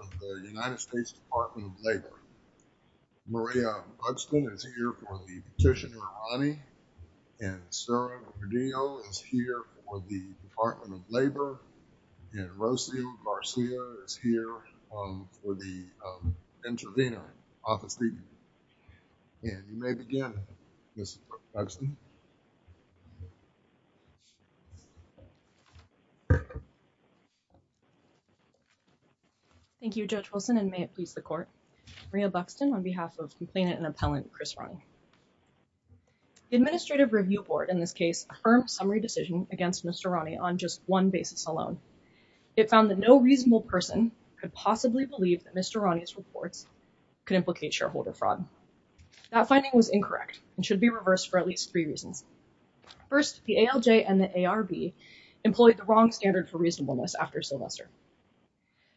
of the United States Department of Labor. Maria Buxton is here for the petitioner, Ronnie, and Sarah Gordillo is here for the Department of Labor, and Rocio Garcia is here, um, for the, um, intervener. Office meeting. And you may begin, Ms. Buxton. Thank you, Judge Wilson, and may it please the Court. Maria Buxton on behalf of complainant and appellant Chris Ronnie. The Administrative Review Board, in this case, affirms summary decision against Mr. Ronnie on just one basis alone. It found that no reasonable person could possibly believe that Mr. Ronnie's reports could implicate shareholder fraud. That finding was incorrect and should be reversed for at least three reasons. First, the ALJ and the ARB employed the wrong standard for reasonableness after Sylvester.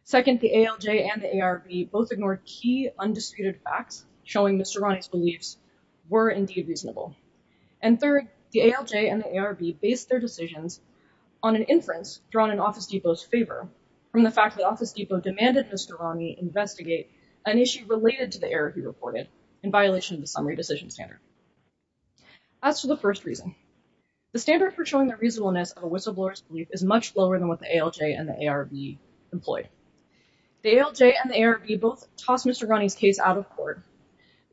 Second, the ALJ and the ARB both ignored key undisputed facts showing Mr. Ronnie's beliefs were indeed reasonable. And third, the ALJ and the ARB based their decisions on an inference drawn in Office Depot's favor from the fact that Office Depot demanded Mr. Ronnie investigate an issue related to the error he reported in violation of the summary decision standard. As for the first reason, the standard for showing the reasonableness of a whistleblower's belief is much lower than what the ALJ and the ARB employed. The ALJ and the ARB both tossed Mr. Ronnie's case out of court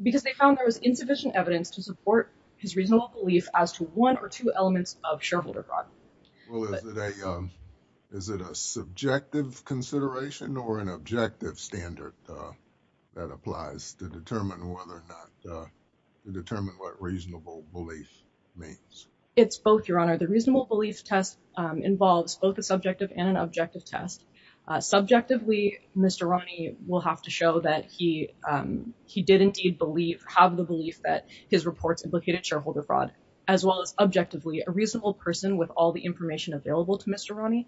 because they found there was insufficient evidence to support his reasonable belief as to one or two elements of shareholder fraud. Well, is it a subjective consideration or an objective standard that applies to determine whether or not to determine what reasonable belief means? It's both, Your Honor. The reasonable belief test involves both a subjective and an objective test. Subjectively, Mr. Ronnie will have to show that he did indeed have the belief that his reports implicated shareholder fraud, as well as objectively, a reasonable person with all the information available to Mr. Ronnie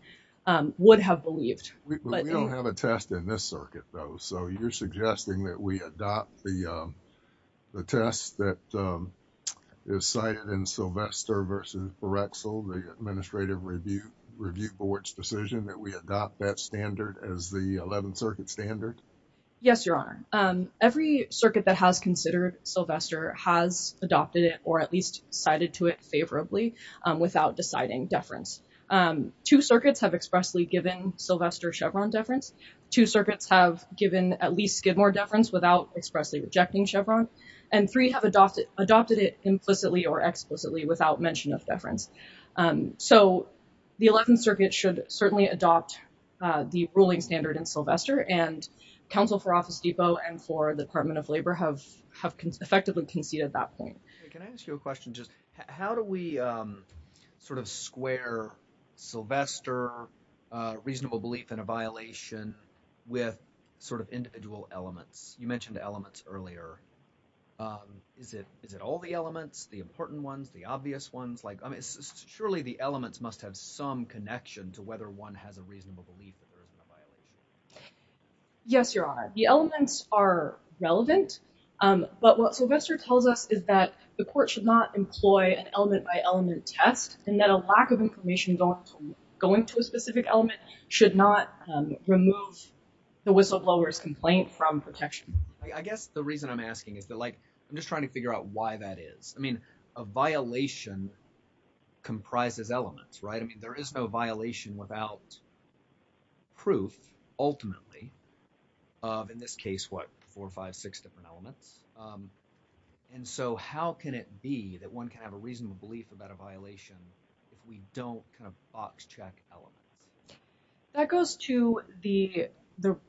would have believed. We don't have a test in this circuit, though, so you're suggesting that we adopt the test that is cited in Sylvester v. Barexel, the Administrative Review Board's decision, that we adopt that standard as the 11th Circuit standard? Yes, Your Honor. Every circuit that has considered Sylvester has adopted it or at least cited to it favorably without deciding deference. Two circuits have expressly given Sylvester Chevron deference. Two circuits have given at least Skidmore deference without expressly objecting Chevron, and three have adopted it implicitly or explicitly without mention of deference. So the 11th Circuit should certainly adopt the ruling standard in Sylvester, and counsel for Office Depot and for the Department of Labor have effectively conceded that point. Can I ask you a question? How do we sort of square Sylvester reasonable belief in a violation with sort of individual elements? You mentioned elements earlier. Is it all the elements, the important ones, the obvious ones? Like, I mean, surely the elements must have some connection to whether one has a reasonable belief that there is a violation. Yes, Your Honor. The elements are relevant, but what Sylvester tells us is that the court should not employ an element-by-element test and that a lack of information going to a specific element should not remove the whistleblower's complaint from protection. I guess the reason I'm asking is that, like, I'm just trying to figure out why that is. I mean, a violation comprises elements, right? I mean, there is no violation without proof ultimately of, in this case, what, four, five, six different elements. And so how can it That goes to the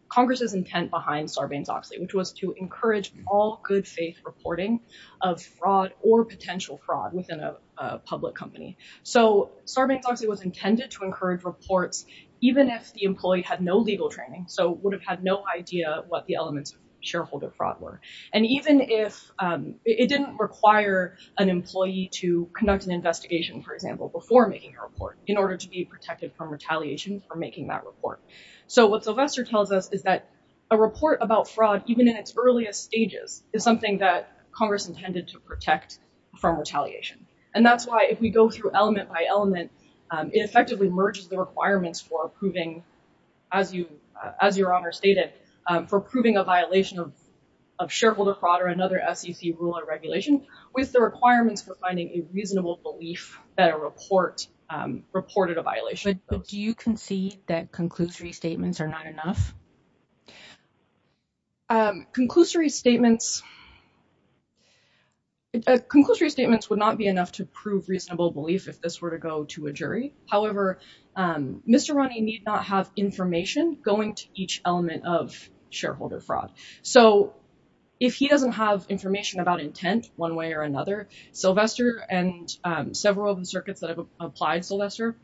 Congress's intent behind Sarbanes-Oxley, which was to encourage all good faith reporting of fraud or potential fraud within a public company. So Sarbanes-Oxley was intended to encourage reports even if the employee had no legal training, so would have had no idea what the elements of shareholder fraud were. And even if it didn't require an employee to conduct an investigation, for example, before making a report in order to be protected from retaliation for making that report. So what Sylvester tells us is that a report about fraud, even in its earliest stages, is something that Congress intended to protect from retaliation. And that's why if we go through element-by-element, it effectively merges the requirements for approving, as your Honor stated, for approving a violation of shareholder fraud or another SEC rule or regulation with the requirements for finding a reasonable belief that a report reported a violation. But do you concede that conclusory statements are not enough? Conclusory statements would not be enough to prove reasonable belief if this were to go to a jury. However, Mr. Ronnie need not have information going to each element of shareholder fraud. So if he doesn't have information about intent one way or another, Sylvester and several of the circuits that have applied Sylvester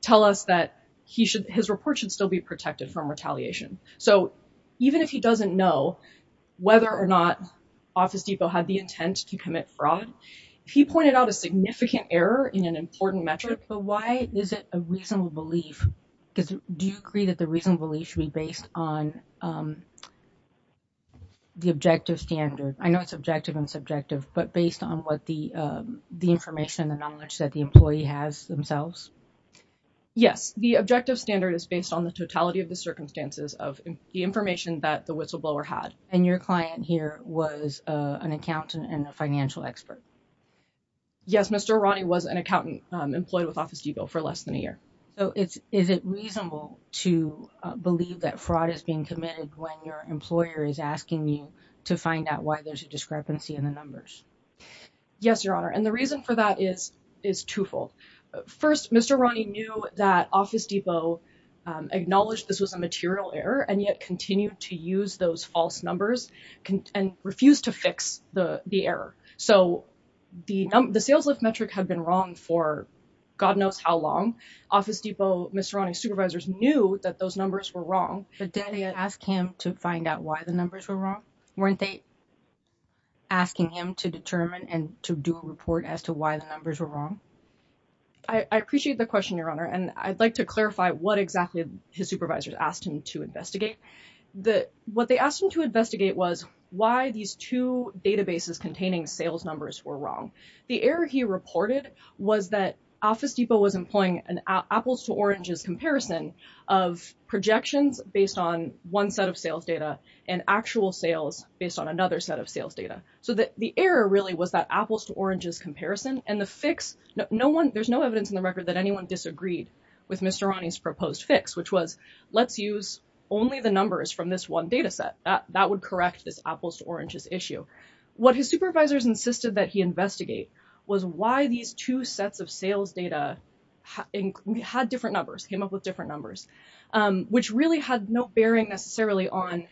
tell us that his report should still be protected from retaliation. So even if he doesn't know whether or not Office Depot had the intent to commit fraud, if he pointed out a significant error in an important metric. But why is it a reasonable belief? Do you agree that the reasonable belief should be the objective standard? I know it's objective and subjective, but based on what the information and knowledge that the employee has themselves? Yes, the objective standard is based on the totality of the circumstances of the information that the whistleblower had. And your client here was an accountant and a financial expert? Yes, Mr. Ronnie was an accountant employed with Office Depot for less than a year. So is it reasonable to believe that fraud is being committed when your employer is asking you to find out why there's a discrepancy in the numbers? Yes, Your Honor. And the reason for that is is twofold. First, Mr. Ronnie knew that Office Depot acknowledged this was a material error and yet continued to use those false numbers and refused to fix the error. So the sales lift metric had been wrong for God knows how long. Office Depot, Mr. Ronnie's supervisors knew that those numbers were wrong. But didn't they ask him to find out why the numbers were wrong? Weren't they asking him to determine and to do a report as to why the numbers were wrong? I appreciate the question, Your Honor. And I'd like to clarify what exactly his supervisors asked him to investigate. What they asked him to investigate was why these two databases containing sales numbers were wrong. The error he reported was that Office Depot was employing an apples to oranges comparison of projections based on one set of sales data and actual sales based on another set of sales data. So the error really was that apples to oranges comparison and the fix. No one there's no evidence in the record that anyone disagreed with Mr. Ronnie's proposed fix, which was let's use only the numbers from this one data set that that would correct this apples to oranges issue. What his supervisors insisted that he investigate was why these two sets of sales data had different numbers, came up with different numbers, which really had no bearing necessarily on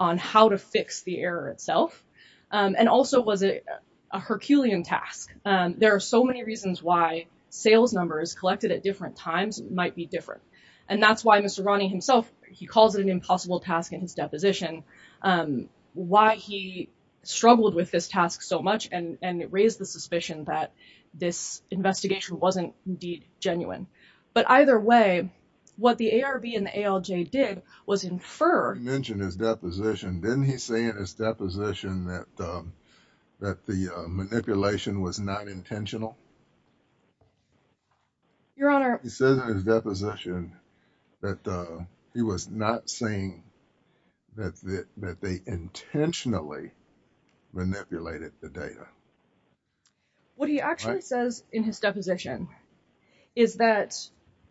on how to fix the error itself and also was a Herculean task. There are so many reasons why sales numbers collected at different times might be different. And that's why Mr. Ronnie himself, he calls it an impossible task in his why he struggled with this task so much. And it raised the suspicion that this investigation wasn't indeed genuine. But either way, what the ARB and the ALJ did was infer. He mentioned his deposition. Didn't he say in his deposition that that the manipulation was not intentional? Your Honor, he said in his deposition that he was not saying that that they intentionally manipulated the data. What he actually says in his deposition is that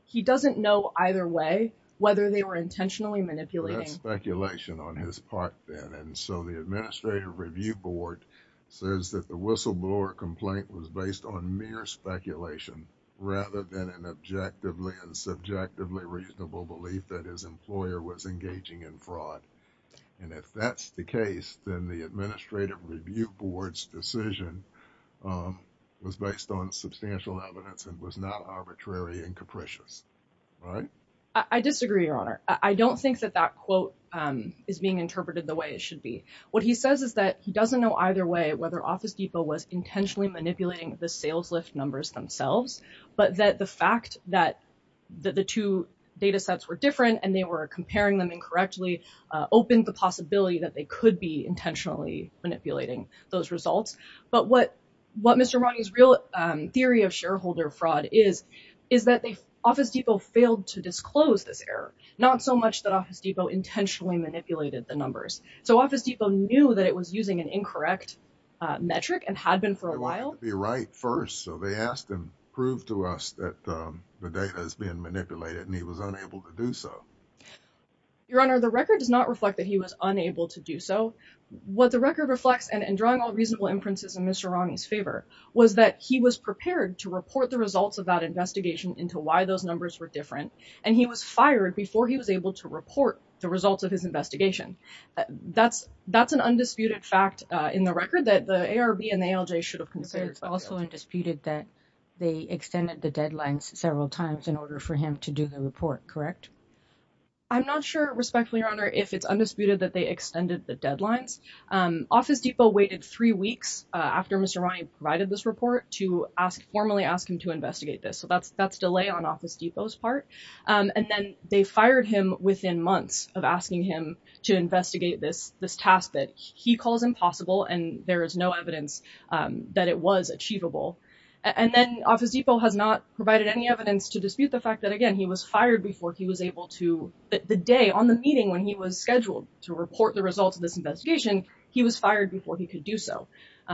he doesn't know either way whether they were intentionally manipulating speculation on his part then. And so the Administrative Review Board says that the whistleblower complaint was based on mere speculation rather than an objectively and subjectively reasonable belief that his employer was engaging in fraud. And if that's the case, then the Administrative Review Board's decision was based on substantial evidence and was not arbitrary and capricious. I disagree, Your Honor. I don't think that that quote is being interpreted the way it should be. What he says is that he doesn't know either way whether Office Depot was intentionally manipulating the sales lift numbers themselves, but that the fact that the two data sets were different and they were comparing them incorrectly opened the possibility that they could be intentionally manipulating those results. But what what Mr. Romney's real theory of shareholder fraud is, is that the Office Depot failed to disclose this error, not so much that Office Depot intentionally manipulated the numbers. So Office Depot knew that it was using an incorrect metric and had been for a while. The right first. So they asked him prove to us that the data has been manipulated and he was unable to do so. Your Honor, the record does not reflect that he was unable to do so. What the record reflects and drawing all reasonable inferences in Mr. Romney's favor was that he was prepared to report the results of that investigation into why those numbers were different. And he was fired before he was able to report the results of his investigation. That's that's an undisputed fact in the record that the ARB and the ALJ should have considered also and disputed that they extended the deadlines several times in order for him to do the report. Correct. I'm not sure, respectfully, Your Honor, if it's undisputed that they extended the deadlines. Office Depot waited three weeks after Mr. Romney provided this report to ask formally ask him to investigate this. So that's that's delay on Office Depot's part. And then they fired him within months of asking him to investigate this this task that he calls impossible. And there is no evidence that it was achievable. And then Office Depot has not provided any evidence to dispute the fact that, again, he was fired before he was able to the day on the meeting when he was scheduled to report the results of this investigation. He was fired before he could do so,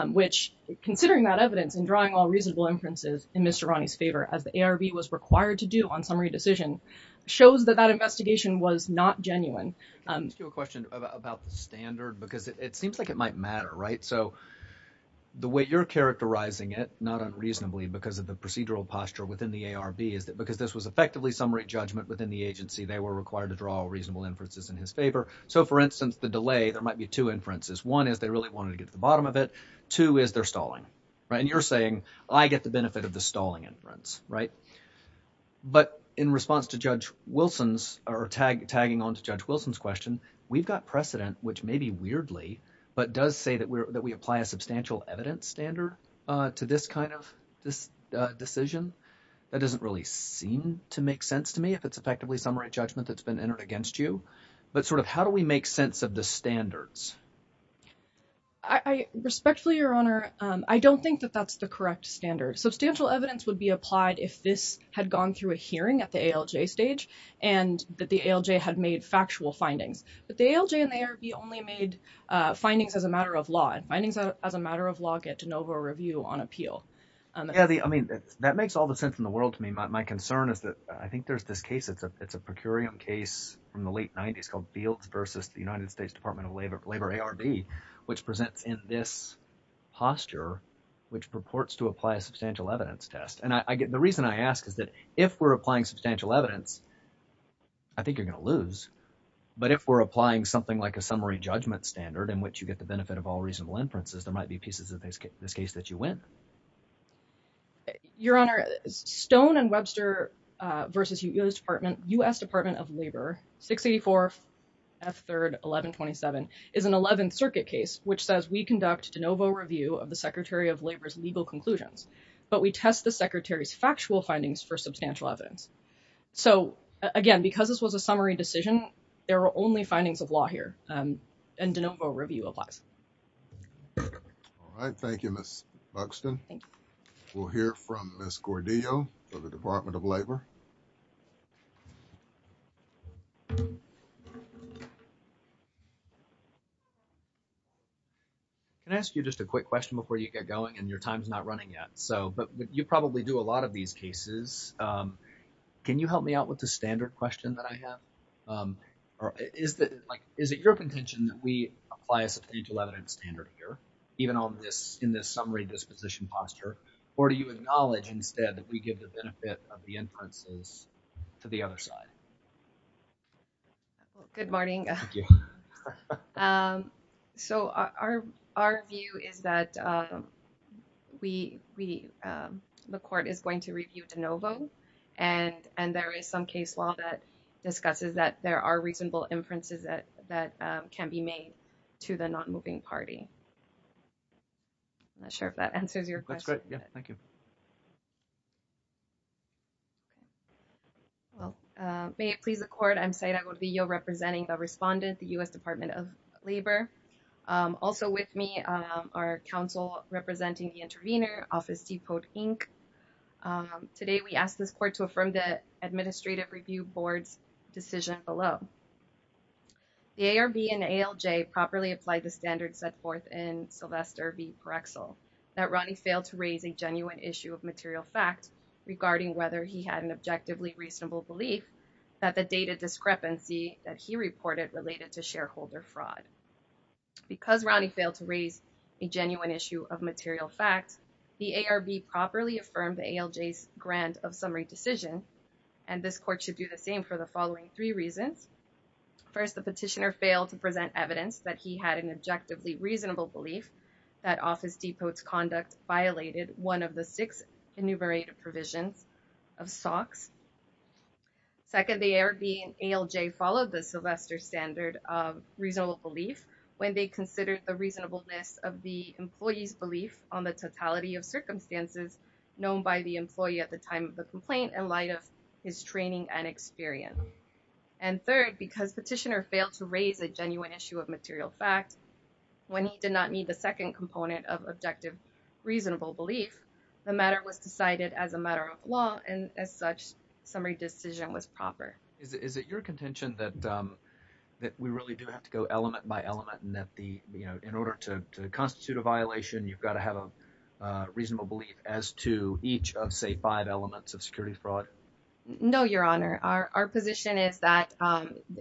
which, considering that evidence and drawing all reasonable inferences in Mr. Romney's favor, as the ARB was required to do on summary decision, shows that that investigation was not genuine. I'm going to ask you a question about the standard because it seems like it might matter. Right. So the way you're characterizing it, not unreasonably because of the procedural posture within the ARB, is that because this was effectively summary judgment within the agency, they were required to draw reasonable inferences in his favor. So, for instance, the delay, there might be two inferences. One is they really wanted to get to the bottom of it. Two is they're stalling. Right. And you're saying I get the benefit of the stalling inference. Right. But in response to Judge Wilson's or tag tagging on to Judge Wilson's question, we've got precedent, which may be weirdly, but does say that that we apply a substantial evidence standard to this kind of this decision. That doesn't really seem to make sense to me if it's effectively summary judgment that's been entered against you. But sort of how do we make sense of the standards? I respectfully, Your Honor, I don't think that that's the correct standard. Substantial evidence would be applied if this had gone through a hearing at the ALJ stage and that the ALJ had made factual findings. But the ALJ and the ARB only made findings as a matter of law and findings as a matter of law get de novo review on appeal. Yeah, I mean, that makes all the sense in the world to me. My concern is that I think there's this case. It's a it's a per curiam case from the late 90s called Fields versus the United States Department of Labor, Labor ARB, which presents in this posture, which purports to apply a substantial evidence test. And I get the reason I ask is that if we're applying substantial evidence, I think you're going to lose. But if we're applying something like a summary judgment standard in which you get the benefit of all reasonable inferences, there might be pieces of this case that you win. Your Honor, Stone and Webster versus U.S. Department, U.S. Department of Labor, 684 F. 3rd, 1127 is an 11th Circuit case which says we conduct de novo review of the Secretary of Labor's legal conclusions. But we test the secretary's factual findings for substantial evidence. So, again, because this was a summary decision, there are only findings of law here and de novo review applies. All right. Thank you, Ms. Buxton. We'll hear from Ms. Gordillo of the Department of Labor. Can I ask you just a quick question before you get going and your time's not running yet. So but you probably do a lot of these cases. Can you help me out with the standard question that I have? Or is that like is it your intention that we apply a substantial evidence standard here even on this in this summary disposition posture? Or do you acknowledge instead that we give the benefit of the inferences to the other side? Good morning. So our our view is that we we the court is going to review de novo and and there is some case law that discusses that there are reasonable inferences that that can be made to the non-moving party. I'm not sure if that answers your question. Thank you. May it please the court, I'm Saira Gordillo representing the respondent, the U.S. Department of Labor. Also with me are counsel representing the intervener, Office Depot Inc. Today, we ask this court to affirm the administrative review board's decision below. The ARB and ALJ properly applied the standards set forth in Sylvester v. Material Fact regarding whether he had an objectively reasonable belief that the data discrepancy that he reported related to shareholder fraud. Because Ronnie failed to raise a genuine issue of material fact, the ARB properly affirmed ALJ's grant of summary decision. And this court should do the same for the following three reasons. First, the petitioner failed to present evidence that he had an objectively reasonable belief that Office Depot's conduct violated one of the six enumerated provisions of SOX. Second, the ARB and ALJ followed the Sylvester standard of reasonable belief when they considered the reasonableness of the employee's belief on the totality of circumstances known by the employee at the time of the complaint in light of his training and experience. And third, because petitioner failed to raise a genuine issue of material fact when he did not need the second component of objective reasonable belief, the matter was decided as a matter of law and as such, summary decision was proper. Is it your contention that that we really do have to go element by element and that the, you know, in order to constitute a violation, you've got to have a reasonable belief as to each of, say, five elements of security fraud? No, Your Honor. Our position is that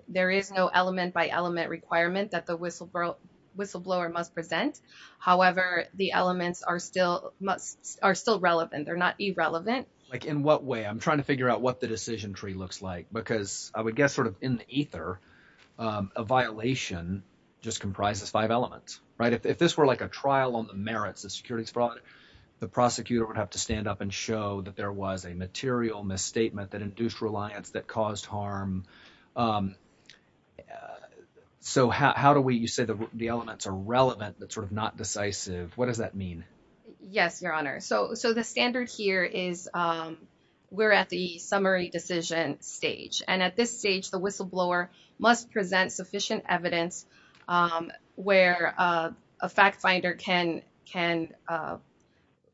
there is no element by element requirement that the whistleblower must present. However, the elements are still must are still relevant. They're not irrelevant. Like in what way? I'm trying to figure out what the decision tree looks like, because I would guess sort of in the ether, a violation just comprises five elements, right? If this were like a trial on the merits of securities fraud, the prosecutor would have to stand up and show that there was a material misstatement that induced reliance that caused harm. So how do we you say the elements are relevant, but sort of not decisive? What does that mean? Yes, Your Honor. So so the standard here is we're at the summary decision stage. And at this stage, the whistleblower must present sufficient evidence where a fact finder can can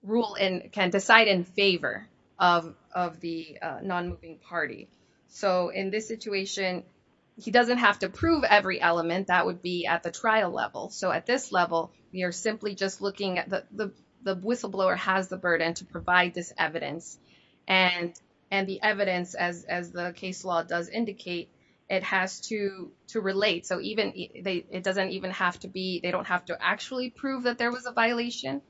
rule in, can decide in favor of of the non-moving party. So in this situation, he doesn't have to prove every element that would be at the trial level. So at this level, you're simply just looking at the the the whistleblower has the burden to provide this evidence and and the evidence, as as the case law does indicate, it has to to relate. So even it doesn't even have to be they don't have to actually prove that there was a violation.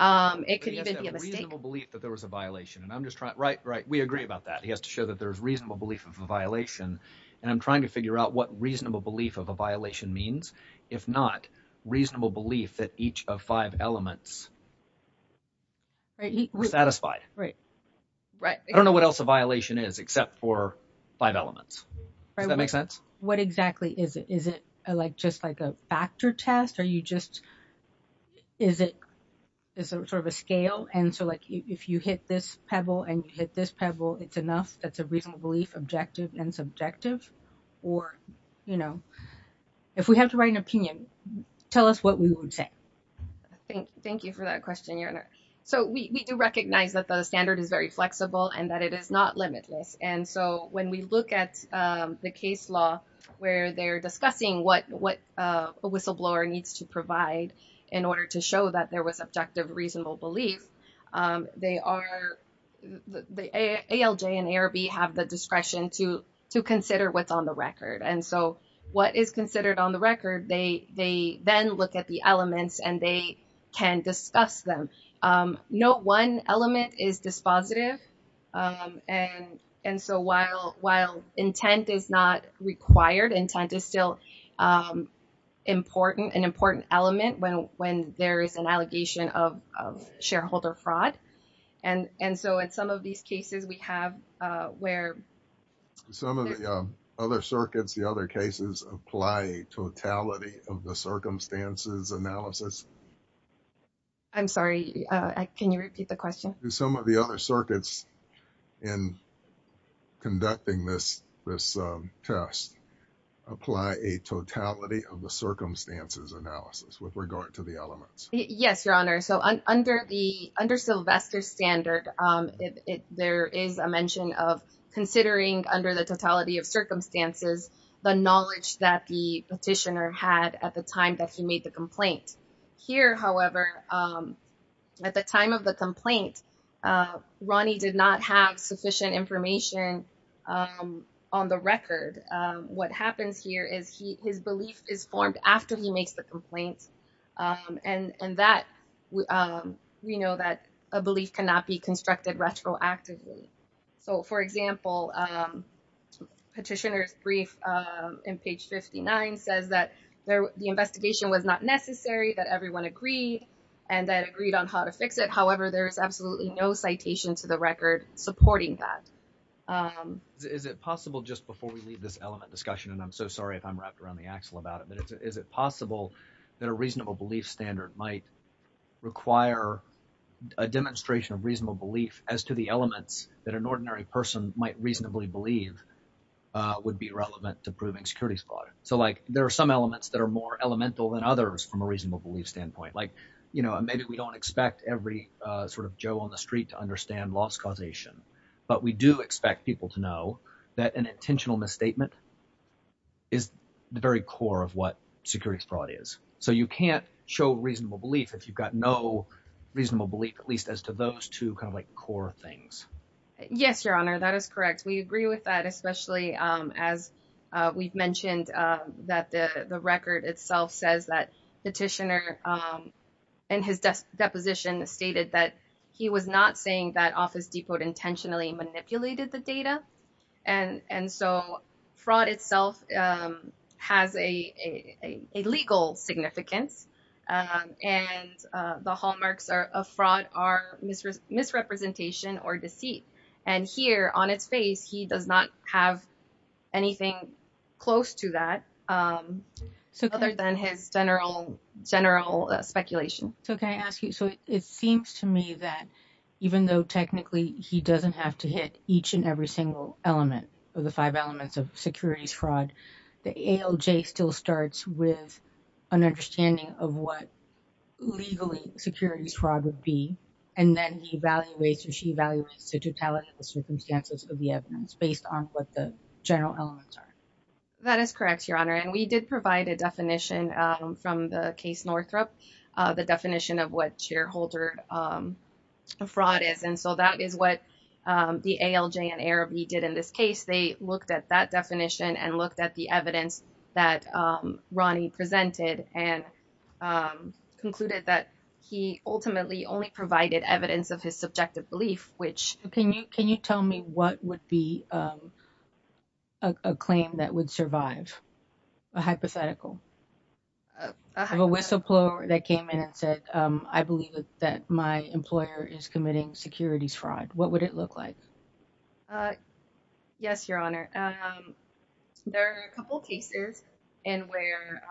It could even be a mistake that there was a violation. And I'm just right. Right. We agree about that. He has to show that there is reasonable belief of a violation. And I'm trying to figure out what reasonable belief of a violation means, if not reasonable belief that each of five elements. Right. Satisfied, right. Right. I don't know what else a violation is except for five elements. Does that make sense? What exactly is it? Is it like just like a factor test or you just. Is it sort of a scale? And so like if you hit this pebble and you hit this pebble, it's enough. That's a reasonable belief, objective and subjective. Or, you know, if we have to write an opinion, tell us what we would say. Thank you for that question. So we do recognize that the standard is very flexible and that it is not limitless. And so when we look at the case law where they're discussing what what a whistleblower needs to provide in order to show that there was objective, reasonable belief, they are the ALJ and ARB have the discretion to to consider what's on the record. And so what is considered on the record, they they then look at the elements and they can discuss them. No one element is dispositive. And and so while while intent is not required, intent is still an important an important element when when there is an allegation of of shareholder fraud. And and so in some of these cases we have where some of the other circuits, the other cases apply totality of the circumstances analysis. I'm sorry, can you repeat the question? Do some of the other circuits in conducting this this test apply a totality of the circumstances analysis with regard to the elements? Yes, your honor. So under the under Sylvester's standard, there is a mention of considering under the totality of circumstances the knowledge that the petitioner had at the time that he made the complaint here. However, at the time of the complaint, Ronnie did not have sufficient information on the record. What happens here is his belief is formed after he makes the complaint. And and that we know that a belief cannot be constructed retroactively. So, for example, petitioner's brief in page fifty nine says that the investigation was not necessary, that everyone agreed and that agreed on how to fix it. However, there is absolutely no citation to the record supporting that. Is it possible just before we leave this element discussion, and I'm so sorry if I'm wrapped around the axle about it, but is it possible that a reasonable belief standard might require a demonstration of reasonable belief as to the elements that an ordinary person might reasonably believe would be relevant to proving securities fraud? So like there are some elements that are more elemental than others from a reasonable belief standpoint, like, you know, maybe we don't expect every sort of Joe on the street to understand loss causation, but we do expect people to know that an intentional misstatement. Is the very core of what securities fraud is, so you can't show reasonable belief if you've got no reasonable belief, at least as to those two kind of like core things. Yes, your honor, that is correct. We agree with that, especially as we've mentioned that the record itself says that Petitioner and his deposition stated that he was not saying that Office Depot intentionally manipulated the data. And and so fraud itself has a legal significance and the hallmarks of fraud are misrepresentation or deceit. And here on its face, he does not have anything close to that. So other than his general general speculation. So can I ask you, so it seems to me that even though technically he doesn't have to hit each and every single element of the five elements of securities fraud, the ALJ still starts with an understanding of what legally securities fraud would be. And then he evaluates or she evaluates the totality of the circumstances of the evidence based on what the general elements are. That is correct, your honor. And we did provide a definition from the case Northrop, the definition of what shareholder fraud is. And so that is what the ALJ and ARB did in this case. They looked at that definition and looked at the evidence that Ronnie presented and concluded that he ultimately only provided evidence of his subjective belief, which can you can you tell me what would be. A claim that would survive a hypothetical. A whistleblower that came in and said, I believe that my employer is committing securities fraud, what would it look like? Uh, yes, your honor. There are a couple of cases in where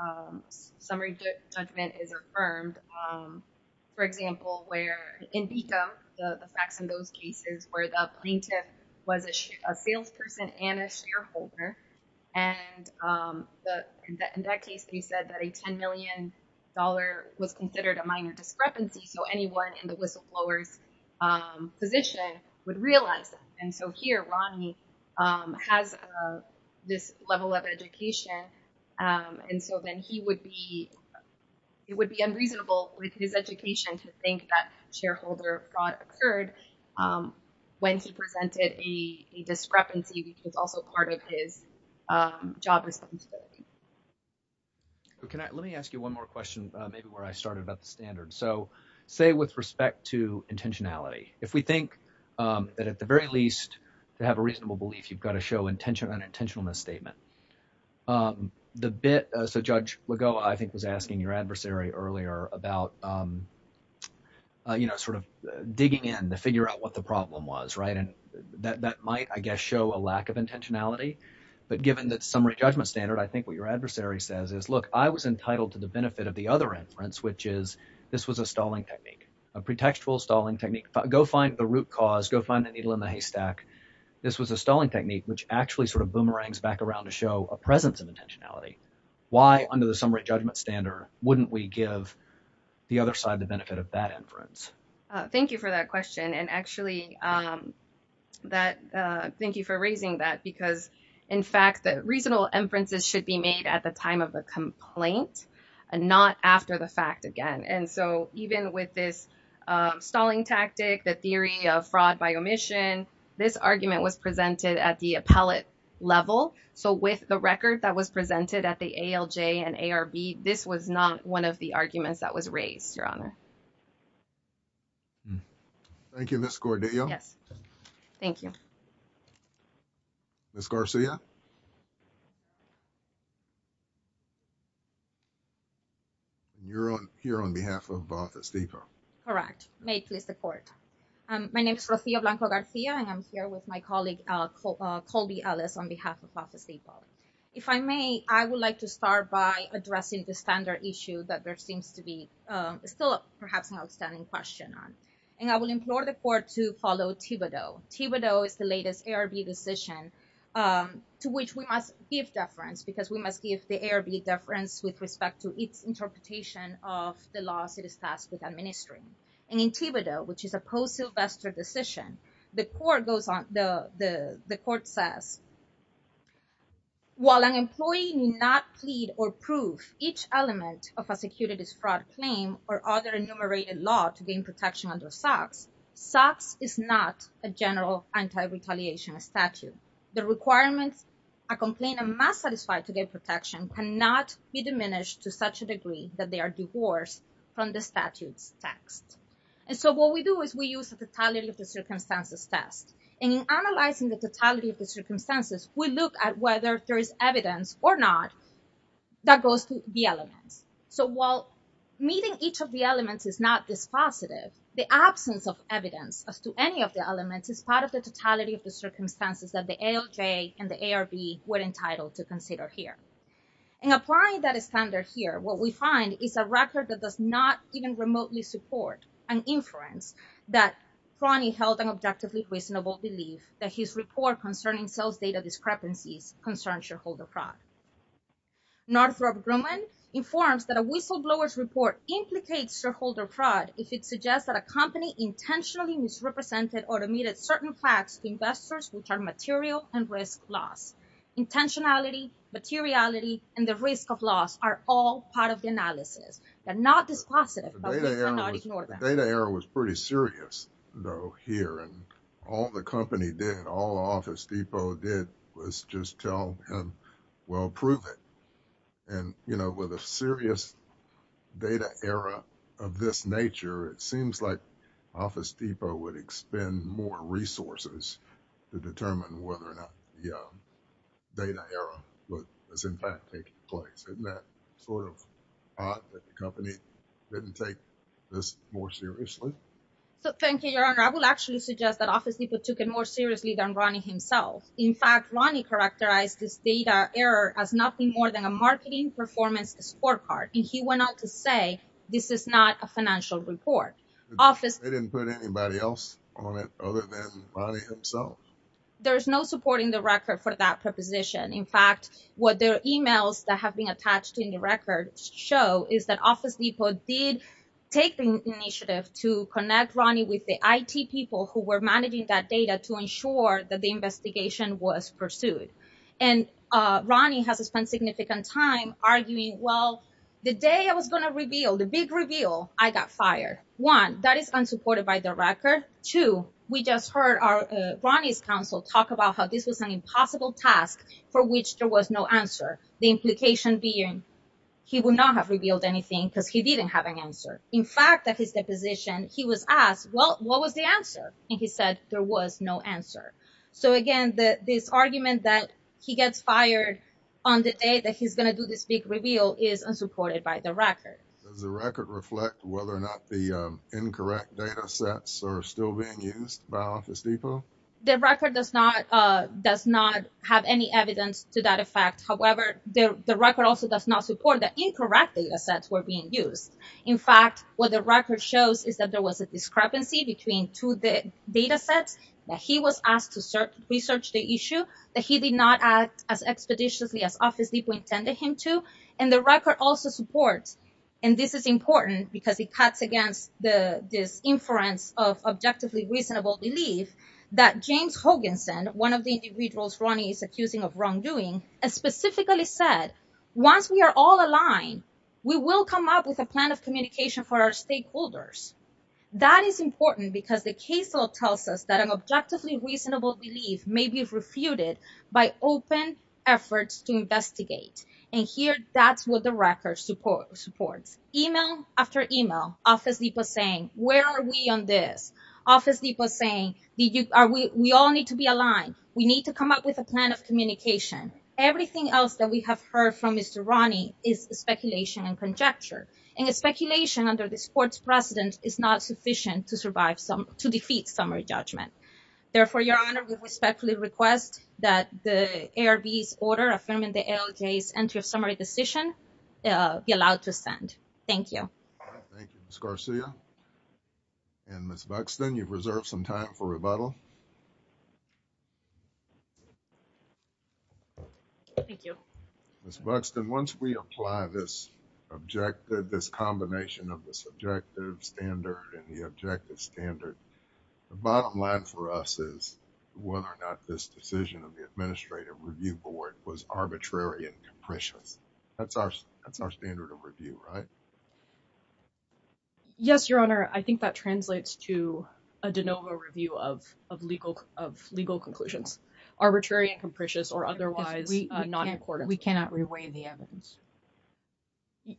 summary judgment is affirmed, for example, where in the facts in those cases where the plaintiff was a salesperson and a shareholder. And in that case, they said that a $10 million was considered a minor fraud. And so here, Ronnie has this level of education. And so then he would be it would be unreasonable with his education to think that shareholder fraud occurred when he presented a discrepancy, which was also part of his job responsibility. Can I let me ask you one more question, maybe where I started about the standard. So say with respect to intentionality, if we think that at the very least to have a reasonable belief, you've got to show intention and intentional misstatement. The bit so Judge Lagoa, I think, was asking your adversary earlier about, you know, sort of digging in to figure out what the problem was. Right. And that that might, I guess, show a lack of intentionality. But given that summary judgment standard, I think what your adversary says is, look, I was entitled to the benefit of the other inference, which is this was a stalling technique, a pretextual stalling technique. Go find the root cause. Go find the needle in the haystack. This was a stalling technique which actually sort of boomerangs back around to show a presence of intentionality. Why under the summary judgment standard, wouldn't we give the other side the benefit of that inference? Thank you for that question. And actually that thank you for raising that, because in fact, the reasonable inferences should be made at the time of the complaint and not after the fact again. And so even with this stalling tactic, the theory of fraud by omission, this argument was presented at the appellate level. So with the record that was presented at the ALJ and ARB, this was not one of the arguments that was raised, Your Honor. Thank you, Ms. Gordillo. Yes, thank you. Ms. Garcia. You're on here on behalf of Office Depot. Correct. May it please the court. My name is Rocio Blanco-Garcia and I'm here with my colleague, Colby Ellis, on behalf of Office Depot. If I may, I would like to start by addressing the standard issue that there seems to be still perhaps an outstanding question on. And I will implore the court to follow Thibodeau. Thibodeau is the latest ARB decision to which we must give deference because we must give the ARB deference with respect to its interpretation of the laws it is tasked with administering. And in Thibodeau, which is a post-Sylvester decision, the court goes on, the court says, while an employee need not plead or prove each element of a securities general anti-retaliation statute, the requirements a complainant must satisfy to get protection cannot be diminished to such a degree that they are divorced from the statute's text. And so what we do is we use the totality of the circumstances test and in analyzing the totality of the circumstances, we look at whether there is evidence or not that goes to the elements. So while meeting each of the elements is not this positive, the absence of evidence as to any of the elements is part of the totality of the circumstances that the ALJ and the ARB were entitled to consider here. And applying that standard here, what we find is a record that does not even remotely support an inference that Crony held an objectively reasonable belief that his report concerning sales data discrepancies concerns shareholder fraud. Northrop Grumman informs that a whistleblower's report implicates shareholder fraud if it suggests that a company intentionally misrepresented or omitted certain facts to investors which are material and risk loss. Intentionality, materiality, and the risk of loss are all part of the analysis. They're not this positive. The data error was pretty serious though here and all the company did, all Office Depot did was just tell him, well, prove it. And with a serious data error of this nature, it seems like Office Depot would expend more resources to determine whether or not the data error was in fact taking place. Isn't that sort of odd that the company didn't take this more seriously? So thank you, Your Honor. I will actually suggest that Office Depot took it more seriously than in fact, Ronnie characterized this data error as nothing more than a marketing performance scorecard. And he went on to say, this is not a financial report. They didn't put anybody else on it other than Ronnie himself. There's no support in the record for that proposition. In fact, what their emails that have been attached in the record show is that Office Depot did take the initiative to connect with the IT people who were managing that data to ensure that the investigation was pursued. And Ronnie has spent significant time arguing, well, the day I was going to reveal the big reveal, I got fired. One, that is unsupported by the record. Two, we just heard Ronnie's counsel talk about how this was an impossible task for which there was no answer. The implication being he would not have revealed anything because he didn't have an answer. In fact, at his deposition, he was asked, well, what was the answer? And he said, there was no answer. So again, this argument that he gets fired on the day that he's going to do this big reveal is unsupported by the record. Does the record reflect whether or not the incorrect data sets are still being used by Office Depot? The record does not have any evidence to that effect. However, the record also does not support that incorrect data sets were being used. In fact, what the record shows is that there was a discrepancy between two data sets, that he was asked to research the issue, that he did not act as expeditiously as Office Depot intended him to. And the record also supports, and this is important because it cuts against this inference of objectively reasonable belief, that James Hoganson, one of the individuals Ronnie is accusing of wrongdoing, has specifically said, once we are all aligned, we will come up with a plan of communication for our stakeholders. That is important because the case law tells us that an objectively reasonable belief may be refuted by open efforts to investigate. And here, that's what the record supports. Email after email, Office Depot saying, where are we on this? Office Depot saying, we all need to be aligned. We need to come up with a plan of communication. Everything else that we have heard from Mr. Ronnie is speculation and conjecture, and the speculation under this court's precedent is not sufficient to defeat summary judgment. Therefore, Your Honor, we respectfully request that the ARB's order affirming the ALJ's entry of summary decision be allowed to ascend. Thank you. Thank you, Ms. Garcia. And Ms. Buxton, you've reserved some time for rebuttal. Thank you. Ms. Buxton, once we apply this objective, this combination of the subjective standard and the objective standard, the bottom line for us is whether or not this decision of the Administrative Review Board was arbitrary and capricious. That's our standard of review, right? Yes, Your Honor. I think that translates to a de novo review of legal conclusions, arbitrary and capricious, or otherwise not in accordance. We cannot reweigh the evidence.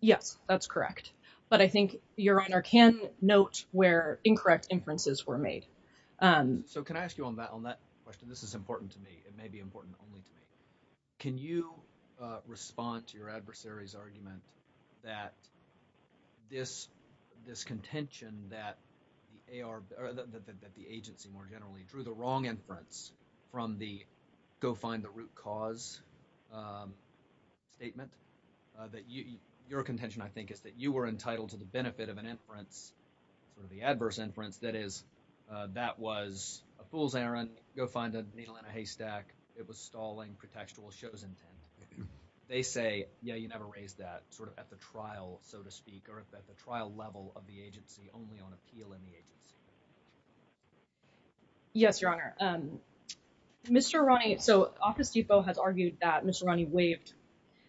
Yes, that's correct. But I think Your Honor can note where incorrect inferences were made. So can I ask you on that question? This is important to me. It may be important only to me. Can you respond to your adversary's argument that this contention that the agency more generally drew the wrong inference from the go find the root cause statement, that your contention, I think, is that you were entitled to the benefit of an inference or the adverse inference, that is, that was a fool's errand, go find a needle in a haystack, it was stalling, pretextual, show's intent. They say, yeah, you never raised that sort of at the trial, so to speak, or at the trial level of the agency only on appeal in the agency. Yes, Your Honor. Mr. Arani, so Office Depot has argued that Mr. Arani waived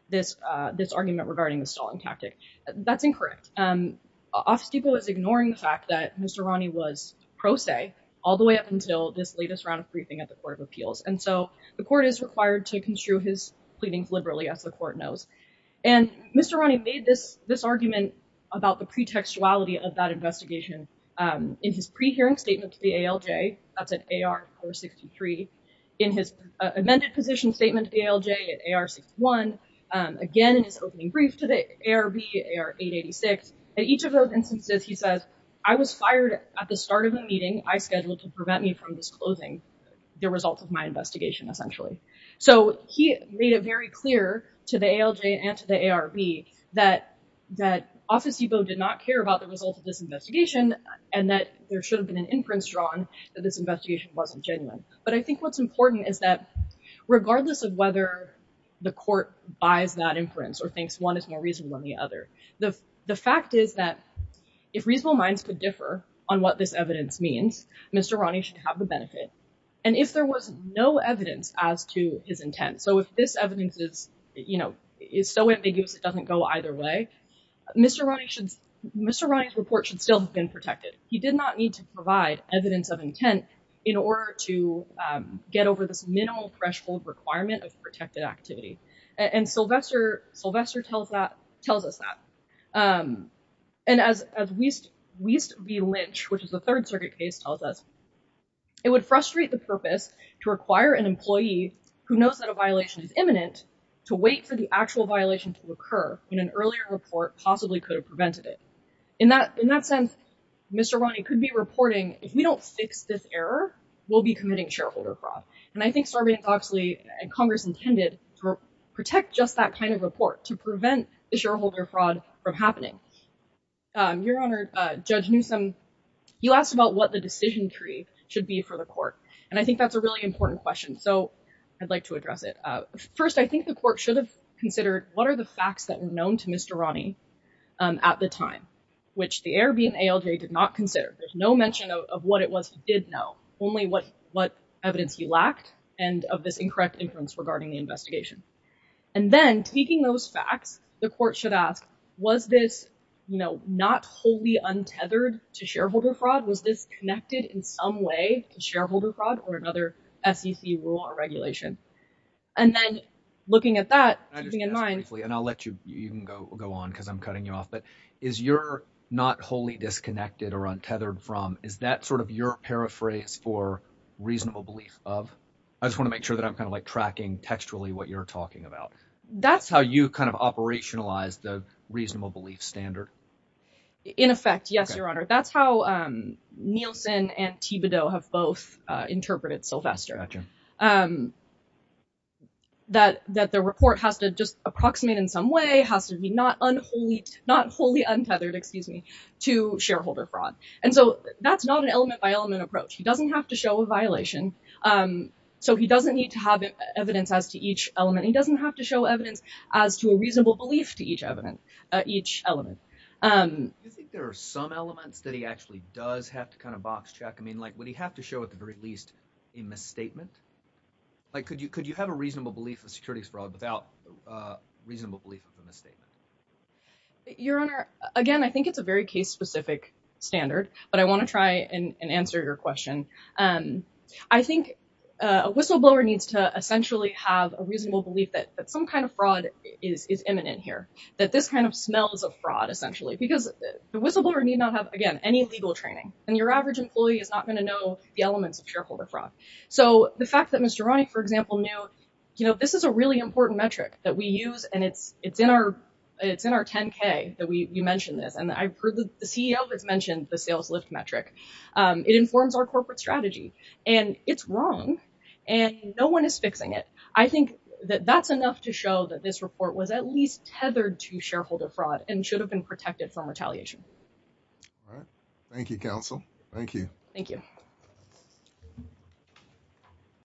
this argument regarding the stalling tactic. That's incorrect. Office Depot is ignoring the fact that Mr. Arani was pro se all the way up until this latest round of briefing at the Court of Appeals. And so the court is required to construe his pleadings liberally, as the court knows. And Mr. Arani made this argument about the pretextuality of that investigation in his pre-hearing statement to the ALJ, that's at AR 463, in his amended position statement to the ALJ at AR 61, again in his opening brief to the ARB at AR 886. At each of those instances, he says, I was fired at the start of a meeting I scheduled to prevent me from disclosing the results of my investigation, essentially. So he made it very clear to the ALJ and to the ARB that Office Depot did not care about the results of this investigation and that there should have been an inference drawn that this investigation wasn't genuine. But I think what's important is that regardless of whether the court buys that inference or thinks one is more reasonable than the other, the fact is that if reasonable minds could differ on what this evidence means, Mr. Arani should have the benefit. And if there was no evidence as to his intent, so if this either way, Mr. Arani's report should still have been protected. He did not need to provide evidence of intent in order to get over this minimal threshold requirement of protected activity. And Sylvester tells us that. And as Wiest v. Lynch, which is a Third Circuit case, tells us, it would frustrate the purpose to require an employee who knows that a violation is imminent to wait for the actual violation to occur when an earlier report possibly could have prevented it. In that sense, Mr. Arani could be reporting, if we don't fix this error, we'll be committing shareholder fraud. And I think Sarbanes-Oxley and Congress intended to protect just that kind of report to prevent the shareholder fraud from happening. Your Honor, Judge Newsome, you asked about what the decision tree should be for the court. And that's a really important question, so I'd like to address it. First, I think the court should have considered what are the facts that were known to Mr. Arani at the time, which the Airbnb and ALJ did not consider. There's no mention of what it was he did know, only what evidence he lacked, and of this incorrect inference regarding the investigation. And then, taking those facts, the court should ask, was this not wholly untethered to shareholder fraud? Was this in some way to shareholder fraud or another SEC rule or regulation? And then, looking at that, keeping in mind... I just want to ask briefly, and I'll let you go on because I'm cutting you off, but is your not wholly disconnected or untethered from, is that sort of your paraphrase for reasonable belief of? I just want to make sure that I'm kind of like tracking textually what you're talking about. That's how you kind of operationalize the reasonable belief standard? In effect, yes, Your Honor. That's how Nielsen and Thibodeau have both interpreted Sylvester. That the report has to just approximate in some way, has to be not wholly untethered, excuse me, to shareholder fraud. And so, that's not an element-by-element approach. He doesn't have to show a violation, so he doesn't need to have evidence as to each element. He doesn't have to show evidence as to a reasonable belief to each element. Do you think there are some elements that he actually does have to kind of box check? I mean, like, would he have to show, at the very least, a misstatement? Like, could you have a reasonable belief of securities fraud without a reasonable belief of a misstatement? Your Honor, again, I think it's a very case-specific standard, but I want to try and answer your question. I think a whistleblower needs to have a reasonable belief that some kind of fraud is imminent here, that this kind of smells of fraud, essentially, because the whistleblower need not have, again, any legal training, and your average employee is not going to know the elements of shareholder fraud. So, the fact that Mr. Ronnick, for example, knew, you know, this is a really important metric that we use, and it's in our 10-K that we mention this, and I've heard the CEO has mentioned the I think that that's enough to show that this report was at least tethered to shareholder fraud and should have been protected from retaliation. All right. Thank you, counsel. Thank you. Thank you.